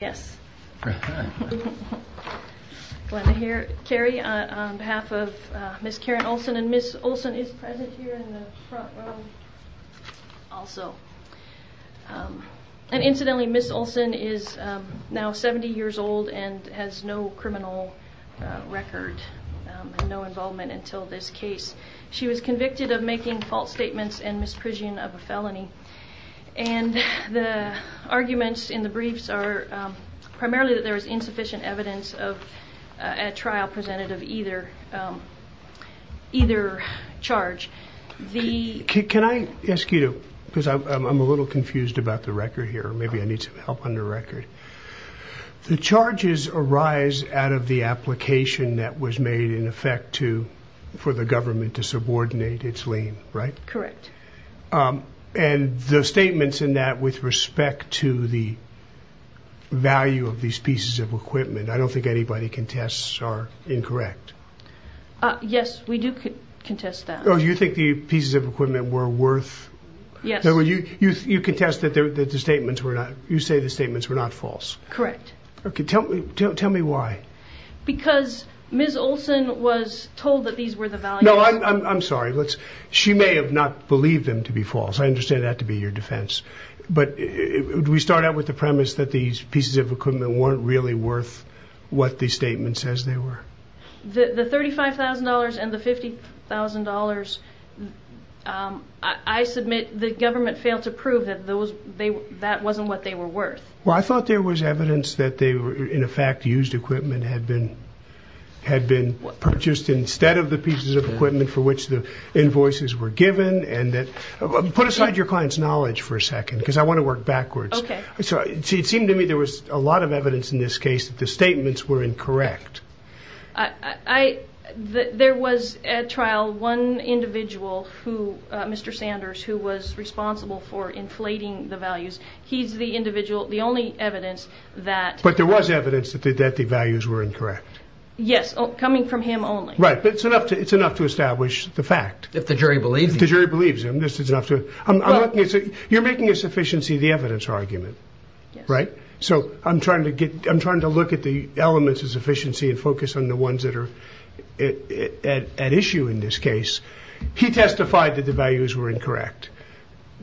Yes, here, Carrie, on behalf of Miss Karen Olson and Miss Olson is present here in the front row also. And incidentally, Miss Olson is now 70 years old and has no criminal record, no involvement until this case. She was convicted of making false statements and misprision of a felony. And the there is insufficient evidence of a trial presented of either charge. The Can I ask you to, because I'm a little confused about the record here, maybe I need some help on the record. The charges arise out of the application that was made in effect to, for the government to subordinate its lien, right? Correct. And the statements in that with respect to the value of these pieces of equipment, I don't think anybody contests are incorrect. Yes, we do contest that. Oh, you think the pieces of equipment were worth... Yes. You contest that the statements were not, you say the statements were not false. Correct. Okay, tell me why. Because Miss Olson was told that these were the values... No, I'm sorry. She may have not believed them to be false. I understand that to be your defense. But we start out with the premise that these pieces of equipment weren't really worth what the statement says they were. The $35,000 and the $50,000, I submit the government failed to prove that that wasn't what they were worth. Well, I thought there was evidence that they were in effect used equipment and had been purchased instead of the pieces of equipment for which the invoices were given. Put aside your client's knowledge for a second because I want to work backwards. Okay. It seemed to me there was a lot of evidence in this case that the statements were incorrect. There was at trial one individual, Mr. Sanders, who was responsible for inflating the values. He's the only evidence that... Yes, coming from him only. Right, but it's enough to establish the fact. If the jury believes him. If the jury believes him. You're making a sufficiency of the evidence argument, right? Yes. So I'm trying to look at the elements of sufficiency and focus on the ones that are at issue in this case. He testified that the values were incorrect.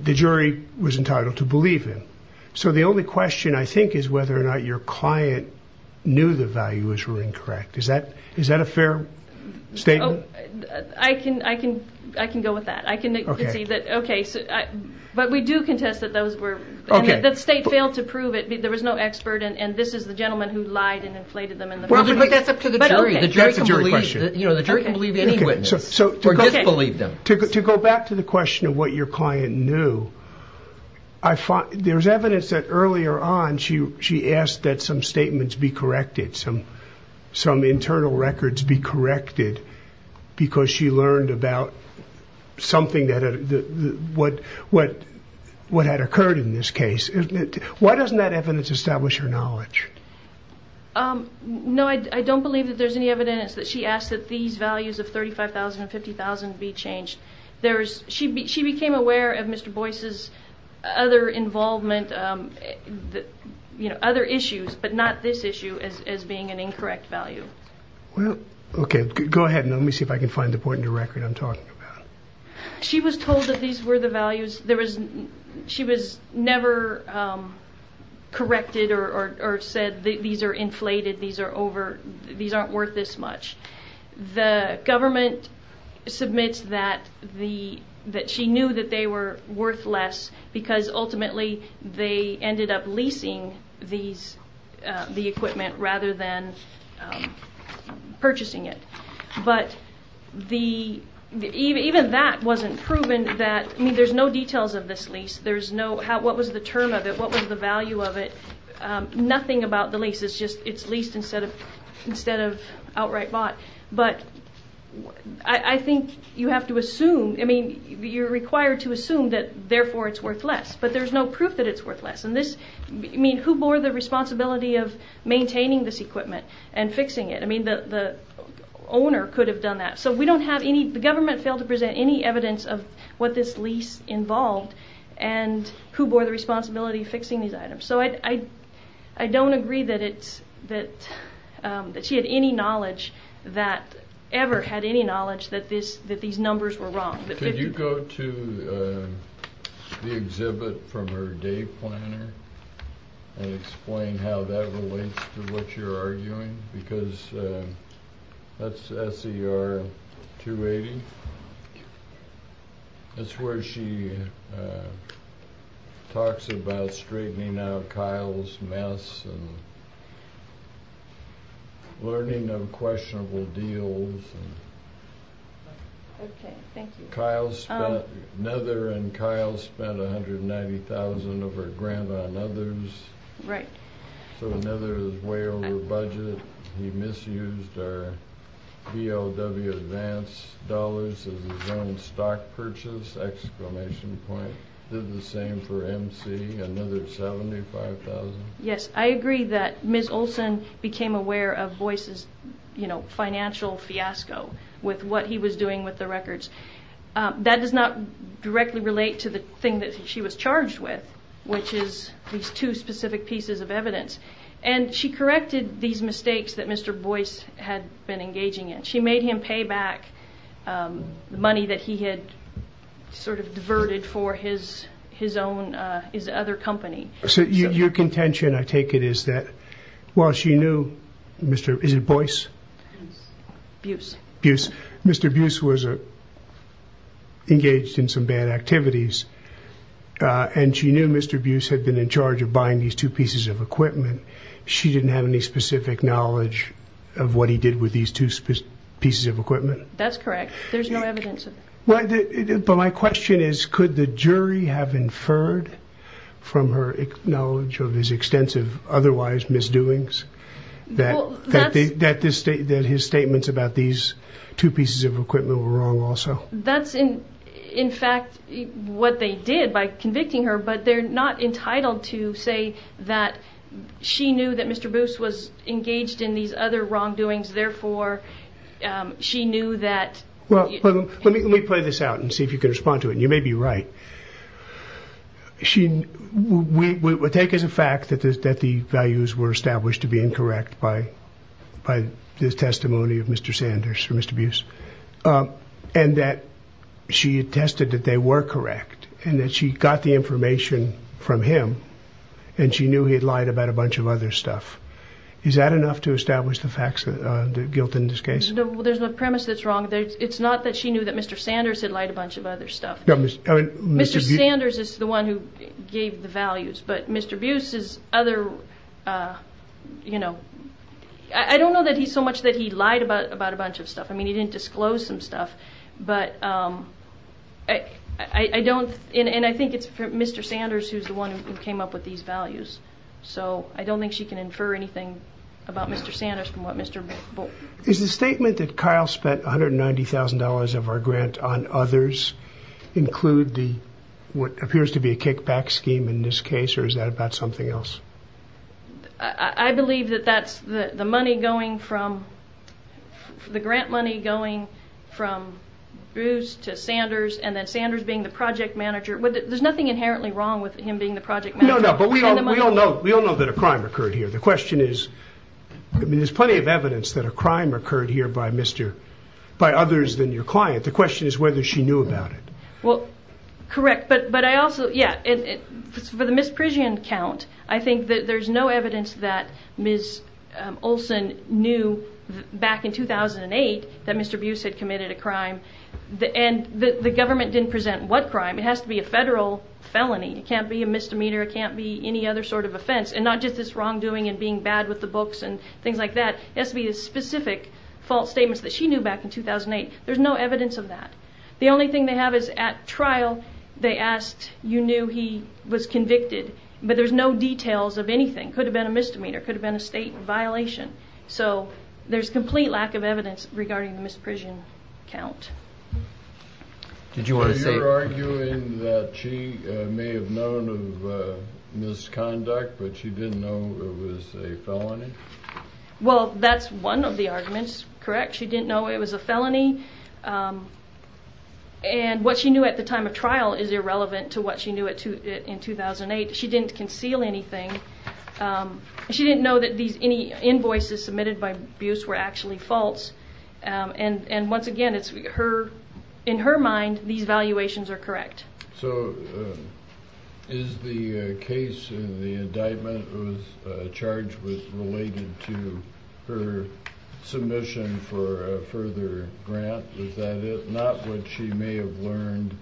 The jury was entitled to believe him. So the only question, I think, is whether or not your client knew the values were incorrect. Is that a fair statement? I can go with that. Okay. But we do contest that those were... Okay. The state failed to prove it. There was no expert and this is the gentleman who lied and inflated them in the first place. But that's up to the jury. That's a jury question. The jury can believe any witness or just believe them. To go back to the question of what your client knew, there's evidence that she asked that some statements be corrected, some internal records be corrected because she learned about something that had occurred in this case. Why doesn't that evidence establish her knowledge? No, I don't believe that there's any evidence that she asked that these values of $35,000 and $50,000 be changed. She became aware of Mr. Boyce's other involvement, other issues, but not this issue as being an incorrect value. Okay. Go ahead and let me see if I can find the point in the record I'm talking about. She was told that these were the values. She was never corrected or said these are inflated, these aren't worth this much. The government submits that she knew that they were worth less because ultimately they ended up leasing the equipment rather than purchasing it. But even that wasn't proven. There's no details of this lease. What was the term of it? What was the value of it? Nothing about the lease, it's just it's leased instead of outright bought. But I think you have to assume, you're required to assume that therefore it's worth less, but there's no proof that it's worth less. Who bore the responsibility of maintaining this equipment and fixing it? The owner could have done that. The government failed to present any evidence of what this lease involved and who bore the responsibility of fixing these items. So I don't agree that she had any knowledge, that ever had any knowledge that these numbers were wrong. Could you go to the exhibit from her day planner and explain how that relates to what you're arguing? Because that's SER 280. That's where she talks about straightening out Kyle's mess and learning of questionable deals. Okay, thank you. Nether and Kyle spent $190,000 of her grant on others. Right. So Nether is way over budget. He misused our BOW advance dollars as his own stock purchase, exclamation point. Did the same for MC, another $75,000. Yes, I agree that Ms. Olsen became aware of Boyce's financial fiasco with what he was doing with the records. That does not directly relate to the thing that she was charged with, which is these two specific pieces of evidence. And she corrected these mistakes that Mr. Boyce had been engaging in. She made him pay back the money that he had sort of diverted for his other company. So your contention, I take it, is that while she knew Mr. Boyce? Buse. Buse. Mr. Buse was engaged in some bad activities, and she knew Mr. Buse had been in charge of buying these two pieces of equipment. She didn't have any specific knowledge of what he did with these two pieces of equipment? That's correct. There's no evidence of it. But my question is, could the jury have inferred from her knowledge of his extensive otherwise misdoings that his statements about these two pieces of equipment were wrong also? That's, in fact, what they did by convicting her, but they're not entitled to say that she knew that Mr. Buse was engaged in these other wrongdoings, therefore she knew that. Well, let me play this out and see if you can respond to it, and you may be right. We take as a fact that the values were established to be incorrect by the testimony of Mr. Sanders or Mr. Buse, and that she attested that they were correct and that she got the information from him and she knew he had lied about a bunch of other stuff. Is that enough to establish the guilt in this case? No, there's a premise that's wrong. It's not that she knew that Mr. Sanders had lied about a bunch of other stuff. Mr. Sanders is the one who gave the values, but Mr. Buse is other, you know. I don't know so much that he lied about a bunch of stuff. I mean, he didn't disclose some stuff, but I don't, and I think it's Mr. Sanders who's the one who came up with these values, so I don't think she can infer anything about Mr. Sanders from what Mr. Buse. Is the statement that Kyle spent $190,000 of our grant on others include what appears to be a kickback scheme in this case, or is that about something else? I believe that that's the grant money going from Buse to Sanders and then Sanders being the project manager. There's nothing inherently wrong with him being the project manager. No, no, but we all know that a crime occurred here. The question is, I mean, there's plenty of evidence that a crime occurred here by others than your client. The question is whether she knew about it. Well, correct, but I also, yeah, for the misprision count, I think that there's no evidence that Ms. Olson knew back in 2008 that Mr. Buse had committed a crime, and the government didn't present what crime. It has to be a federal felony. It can't be a misdemeanor. It can't be any other sort of offense, and not just this wrongdoing and being bad with the books and things like that. It has to be a specific false statement that she knew back in 2008. There's no evidence of that. The only thing they have is at trial they asked, you knew he was convicted, but there's no details of anything. It could have been a misdemeanor. It could have been a state violation. So there's complete lack of evidence regarding the misprision count. Did you want to say? You're arguing that she may have known of misconduct, but she didn't know it was a felony? Well, that's one of the arguments, correct. She didn't know it was a felony, and what she knew at the time of trial is irrelevant to what she knew in 2008. She didn't conceal anything. She didn't know that any invoices submitted by Buse were actually false. And once again, in her mind, these valuations are correct. So is the case in the indictment charged with related to her submission for a further grant? Is that it, not what she may have learned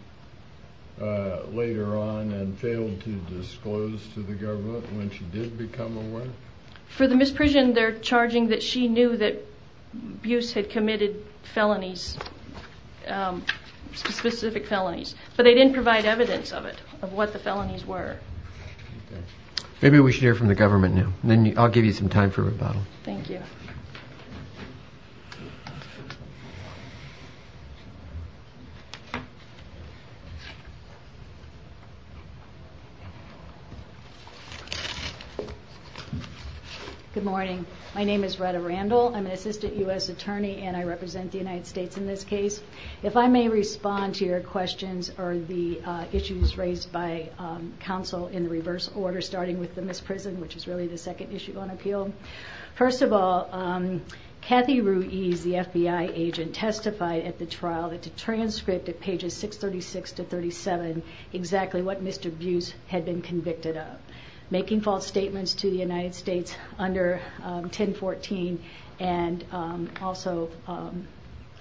later on and failed to disclose to the government when she did become aware? For the misprision, they're charging that she knew that Buse had committed felonies, specific felonies. But they didn't provide evidence of it, of what the felonies were. Maybe we should hear from the government now, and then I'll give you some time for rebuttal. Thank you. Good morning. My name is Retta Randall. I'm an assistant U.S. attorney, and I represent the United States in this case. If I may respond to your questions or the issues raised by counsel in the reverse order, starting with the misprison, which is really the second issue on appeal. First of all, Kathy Ruiz, the FBI agent, testified at the trial that to transcript at pages 636 to 37 exactly what Mr. Buse had been convicted of, making false statements to the United States under 1014, and also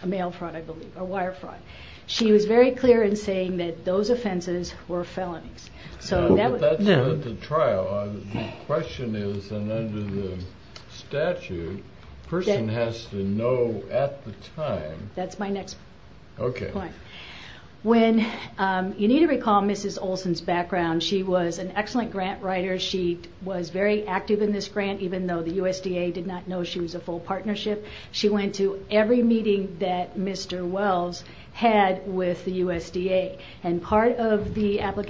a mail fraud, I believe, a wire fraud. She was very clear in saying that those offenses were felonies. That's not the trial. The question is, and under the statute, the person has to know at the time. That's my next point. You need to recall Mrs. Olson's background. She was an excellent grant writer. She was very active in this grant, even though the USDA did not know she was a full partnership. She went to every meeting that Mr. Wells had with the USDA.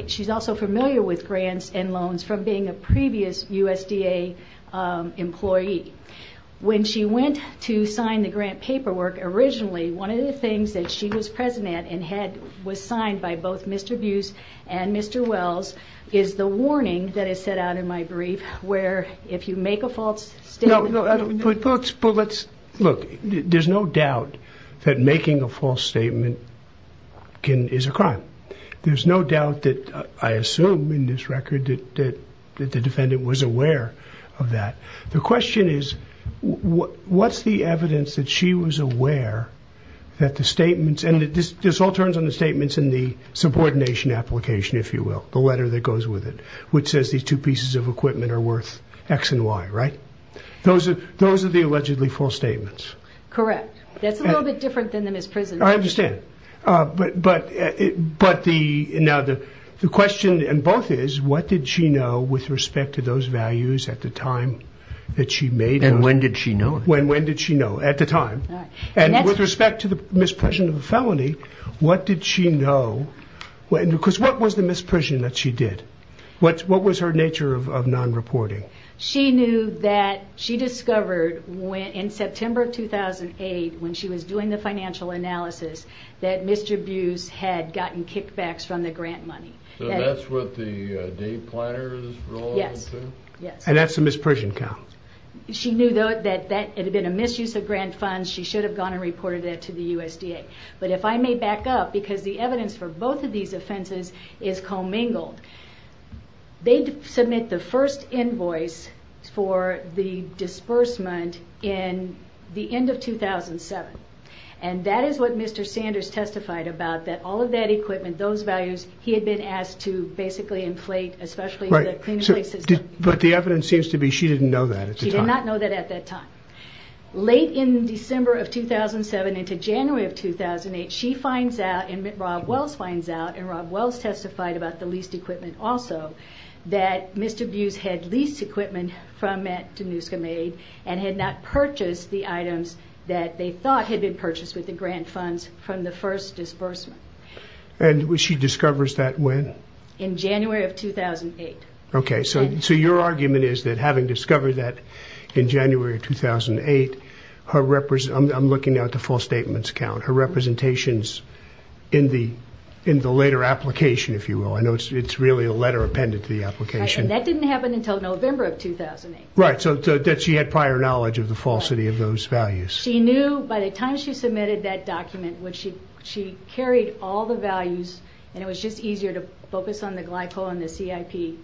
She's also familiar with grants and loans from being a previous USDA employee. When she went to sign the grant paperwork, one of the things that she was present at and was signed by both Mr. Buse and Mr. Wells is the warning that is set out in my brief where if you make a false statement. Look, there's no doubt that making a false statement is a crime. There's no doubt that I assume in this record that the defendant was aware of that. The question is, what's the evidence that she was aware that the statements, and this all turns on the statements in the subordination application, if you will, the letter that goes with it, which says these two pieces of equipment are worth X and Y, right? Those are the allegedly false statements. Correct. That's a little bit different than the misprision. I understand. The question in both is, what did she know with respect to those values at the time that she made those? When did she know? When did she know at the time? With respect to the misprision of a felony, what did she know? What was the misprision that she did? What was her nature of non-reporting? She knew that she discovered in September of 2008, when she was doing the financial analysis, that Mr. Buse had gotten kickbacks from the grant money. So that's what the date planner is rolling to? Yes. And that's the misprision count. She knew, though, that that had been a misuse of grant funds. She should have gone and reported that to the USDA. But if I may back up, because the evidence for both of these offenses is commingled, they submit the first invoice for the disbursement in the end of 2007. And that is what Mr. Sanders testified about, that all of that equipment, those values, he had been asked to basically inflate, especially in the cleaning places. But the evidence seems to be she didn't know that at the time. She did not know that at that time. Late in December of 2007 into January of 2008, she finds out, and Rob Wells finds out, and Rob Wells testified about the leased equipment also, that Mr. Buse had leased equipment from Matanuska Maid and had not purchased the items that they thought had been purchased with the grant funds from the first disbursement. And she discovers that when? In January of 2008. Okay. So your argument is that having discovered that in January of 2008, I'm looking now at the false statements count. Her representations in the later application, if you will. I know it's really a letter appended to the application. Right, and that didn't happen until November of 2008. Right, so that she had prior knowledge of the falsity of those values. She knew by the time she submitted that document, she carried all the values, and it was just easier to focus on the glycol and the CIP,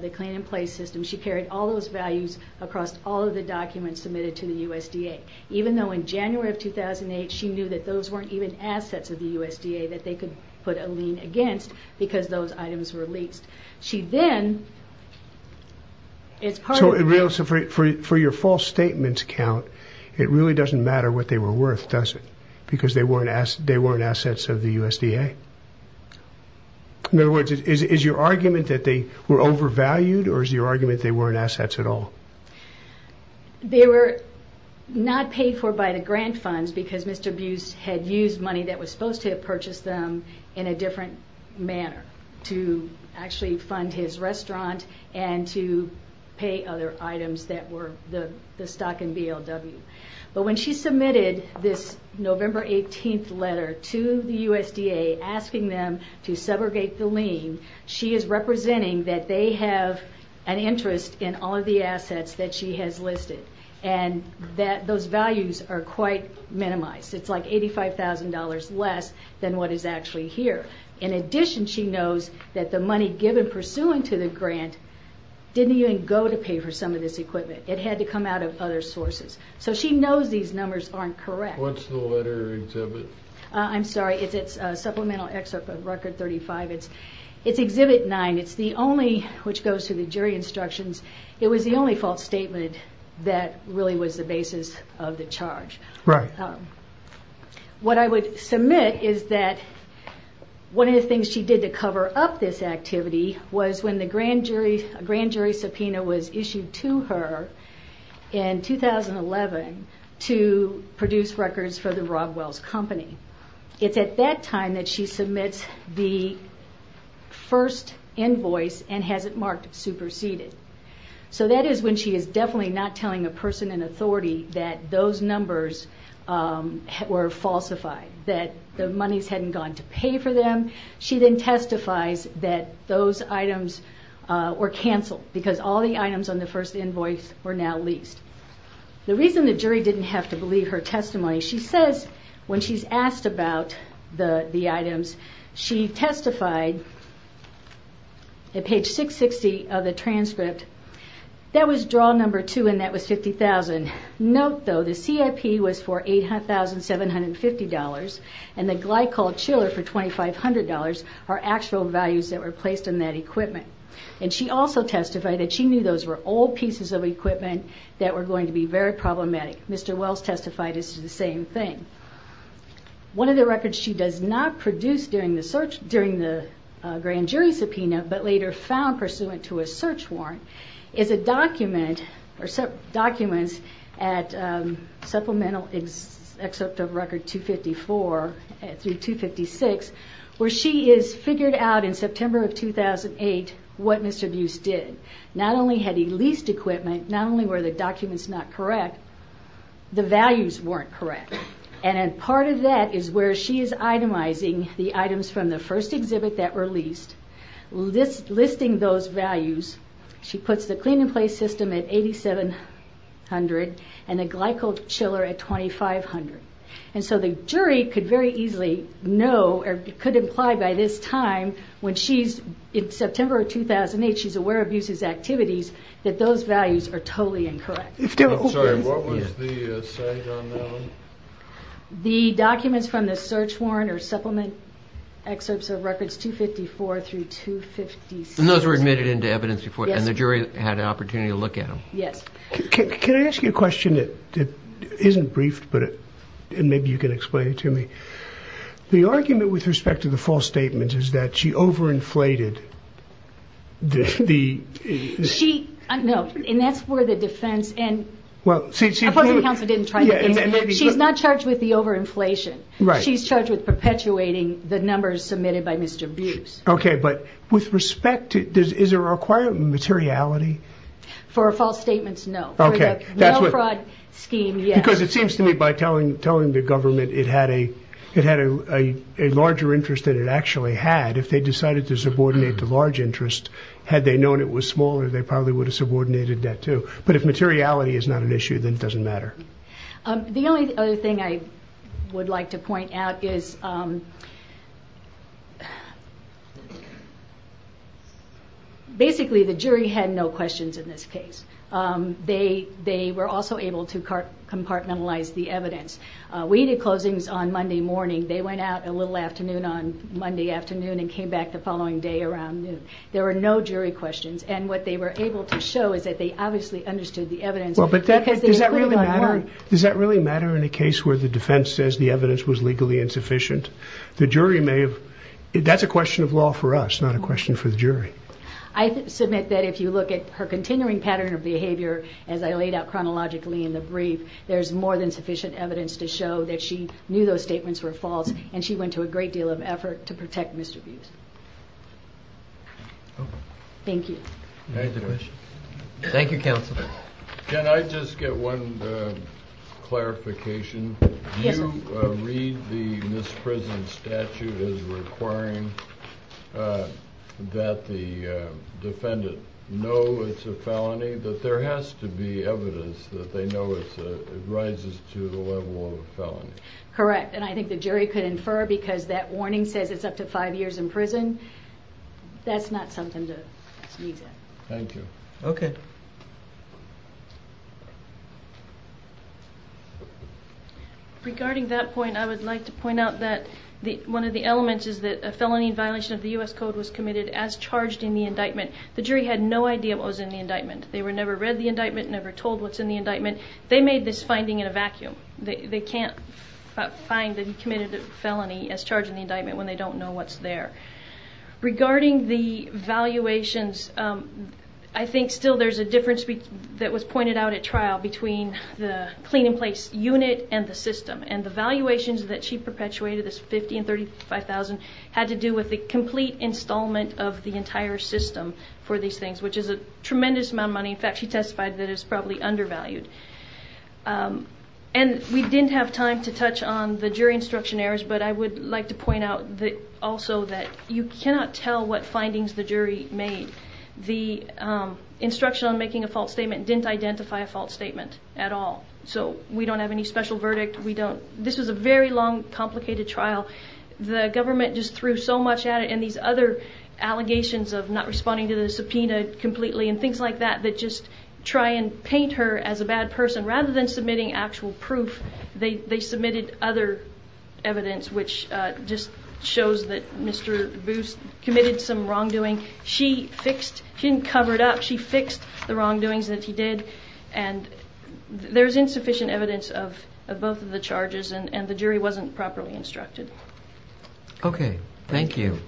the clean and place system. She carried all those values across all of the documents submitted to the USDA. Even though in January of 2008, she knew that those weren't even assets of the USDA that they could put a lien against because those items were leased. She then, as part of that. So for your false statements count, it really doesn't matter what they were worth, does it? Because they weren't assets of the USDA. In other words, is your argument that they were overvalued, or is your argument they weren't assets at all? They were not paid for by the grant funds because Mr. Buse had used money that was supposed to have purchased them in a different manner to actually fund his restaurant and to pay other items that were the stock in BLW. But when she submitted this November 18th letter to the USDA asking them to segregate the lien, she is representing that they have an interest in all of the assets that she has listed. And those values are quite minimized. It's like $85,000 less than what is actually here. In addition, she knows that the money given pursuing to the grant didn't even go to pay for some of this equipment. It had to come out of other sources. So she knows these numbers aren't correct. What's the letter exhibit? I'm sorry, it's a supplemental excerpt of Record 35. It's Exhibit 9, which goes through the jury instructions. It was the only false statement that really was the basis of the charge. Right. What I would submit is that one of the things she did to cover up this activity was when a grand jury subpoena was issued to her in 2011 to produce records for the Rob Wells Company. It's at that time that she submits the first invoice and has it marked superseded. So that is when she is definitely not telling a person in authority that those numbers were falsified, that the monies hadn't gone to pay for them. She then testifies that those items were canceled because all the items on the first invoice were now leased. The reason the jury didn't have to believe her testimony, she says when she's asked about the items, she testified at page 660 of the transcript. That was draw number 2, and that was $50,000. Note, though, the CIP was for $8,750, and the glycol chiller for $2,500 are actual values that were placed on that equipment. And she also testified that she knew those were old pieces of equipment that were going to be very problematic. Mr. Wells testified as to the same thing. One of the records she does not produce during the grand jury subpoena, but later found pursuant to a search warrant, is a document or set of documents at Supplemental Excerpt of Record 256, where she has figured out in September of 2008 what Mr. Buse did. Not only had he leased equipment, not only were the documents not correct, the values weren't correct. And part of that is where she is itemizing the items from the first exhibit that were leased, listing those values. She puts the clean and place system at $8,700 and the glycol chiller at $2,500. And so the jury could very easily know, or could imply by this time, in September of 2008 she's aware of Buse's activities, that those values are totally incorrect. Sorry, what was the saying on that one? The documents from the search warrant or Supplemental Excerpts of Records 254 through 256. And those were admitted into evidence before, and the jury had an opportunity to look at them. Yes. Can I ask you a question that isn't briefed, but maybe you can explain it to me? The argument with respect to the false statement is that she overinflated the... She, no, and that's where the defense... Opposing counsel didn't try to answer that. She's not charged with the overinflation. She's charged with perpetuating the numbers submitted by Mr. Buse. Okay, but with respect, is there a requirement of materiality? For a false statement, no. For the no-fraud scheme, yes. Because it seems to me by telling the government it had a larger interest than it actually had, if they decided to subordinate to large interest, had they known it was smaller, they probably would have subordinated that too. But if materiality is not an issue, then it doesn't matter. The only other thing I would like to point out is... Basically, the jury had no questions in this case. They were also able to compartmentalize the evidence. We did closings on Monday morning. They went out a little afternoon on Monday afternoon and came back the following day around noon. There were no jury questions. And what they were able to show is that they obviously understood the evidence. Does that really matter in a case where the defense says the evidence was legally insufficient? The jury may have... That's a question of law for us, not a question for the jury. I submit that if you look at her continuing pattern of behavior, as I laid out chronologically in the brief, there's more than sufficient evidence to show that she knew those statements were false and she went to a great deal of effort to protect Mr. Buse. Thank you. Thank you, counsel. Can I just get one clarification? Do you read the misprison statute as requiring that the defendant know it's a felony, that there has to be evidence that they know it rises to the level of a felony? Correct, and I think the jury could infer because that warning says it's up to 5 years in prison. That's not something to sneeze at. Thank you. Okay. Regarding that point, I would like to point out that one of the elements is that a felony in violation of the U.S. Code was committed as charged in the indictment. The jury had no idea what was in the indictment. They never read the indictment, never told what's in the indictment. They can't find that he committed a felony as charged in the indictment when they don't know what's there. Regarding the valuations, I think still there's a difference that was pointed out at trial between the clean-in-place unit and the system. And the valuations that she perpetuated, this $50,000 and $35,000, had to do with the complete installment of the entire system for these things, which is a tremendous amount of money. In fact, she testified that it's probably undervalued. And we didn't have time to touch on the jury instruction errors, but I would like to point out also that you cannot tell what findings the jury made. The instruction on making a fault statement didn't identify a fault statement at all. So we don't have any special verdict. This was a very long, complicated trial. The government just threw so much at it, and these other allegations of not responding to the subpoena completely and things like that, that just try and paint her as a bad person. Rather than submitting actual proof, they submitted other evidence, which just shows that Mr. Boost committed some wrongdoing. She didn't cover it up. She fixed the wrongdoings that he did. And there's insufficient evidence of both of the charges, and the jury wasn't properly instructed. Okay. Thank you.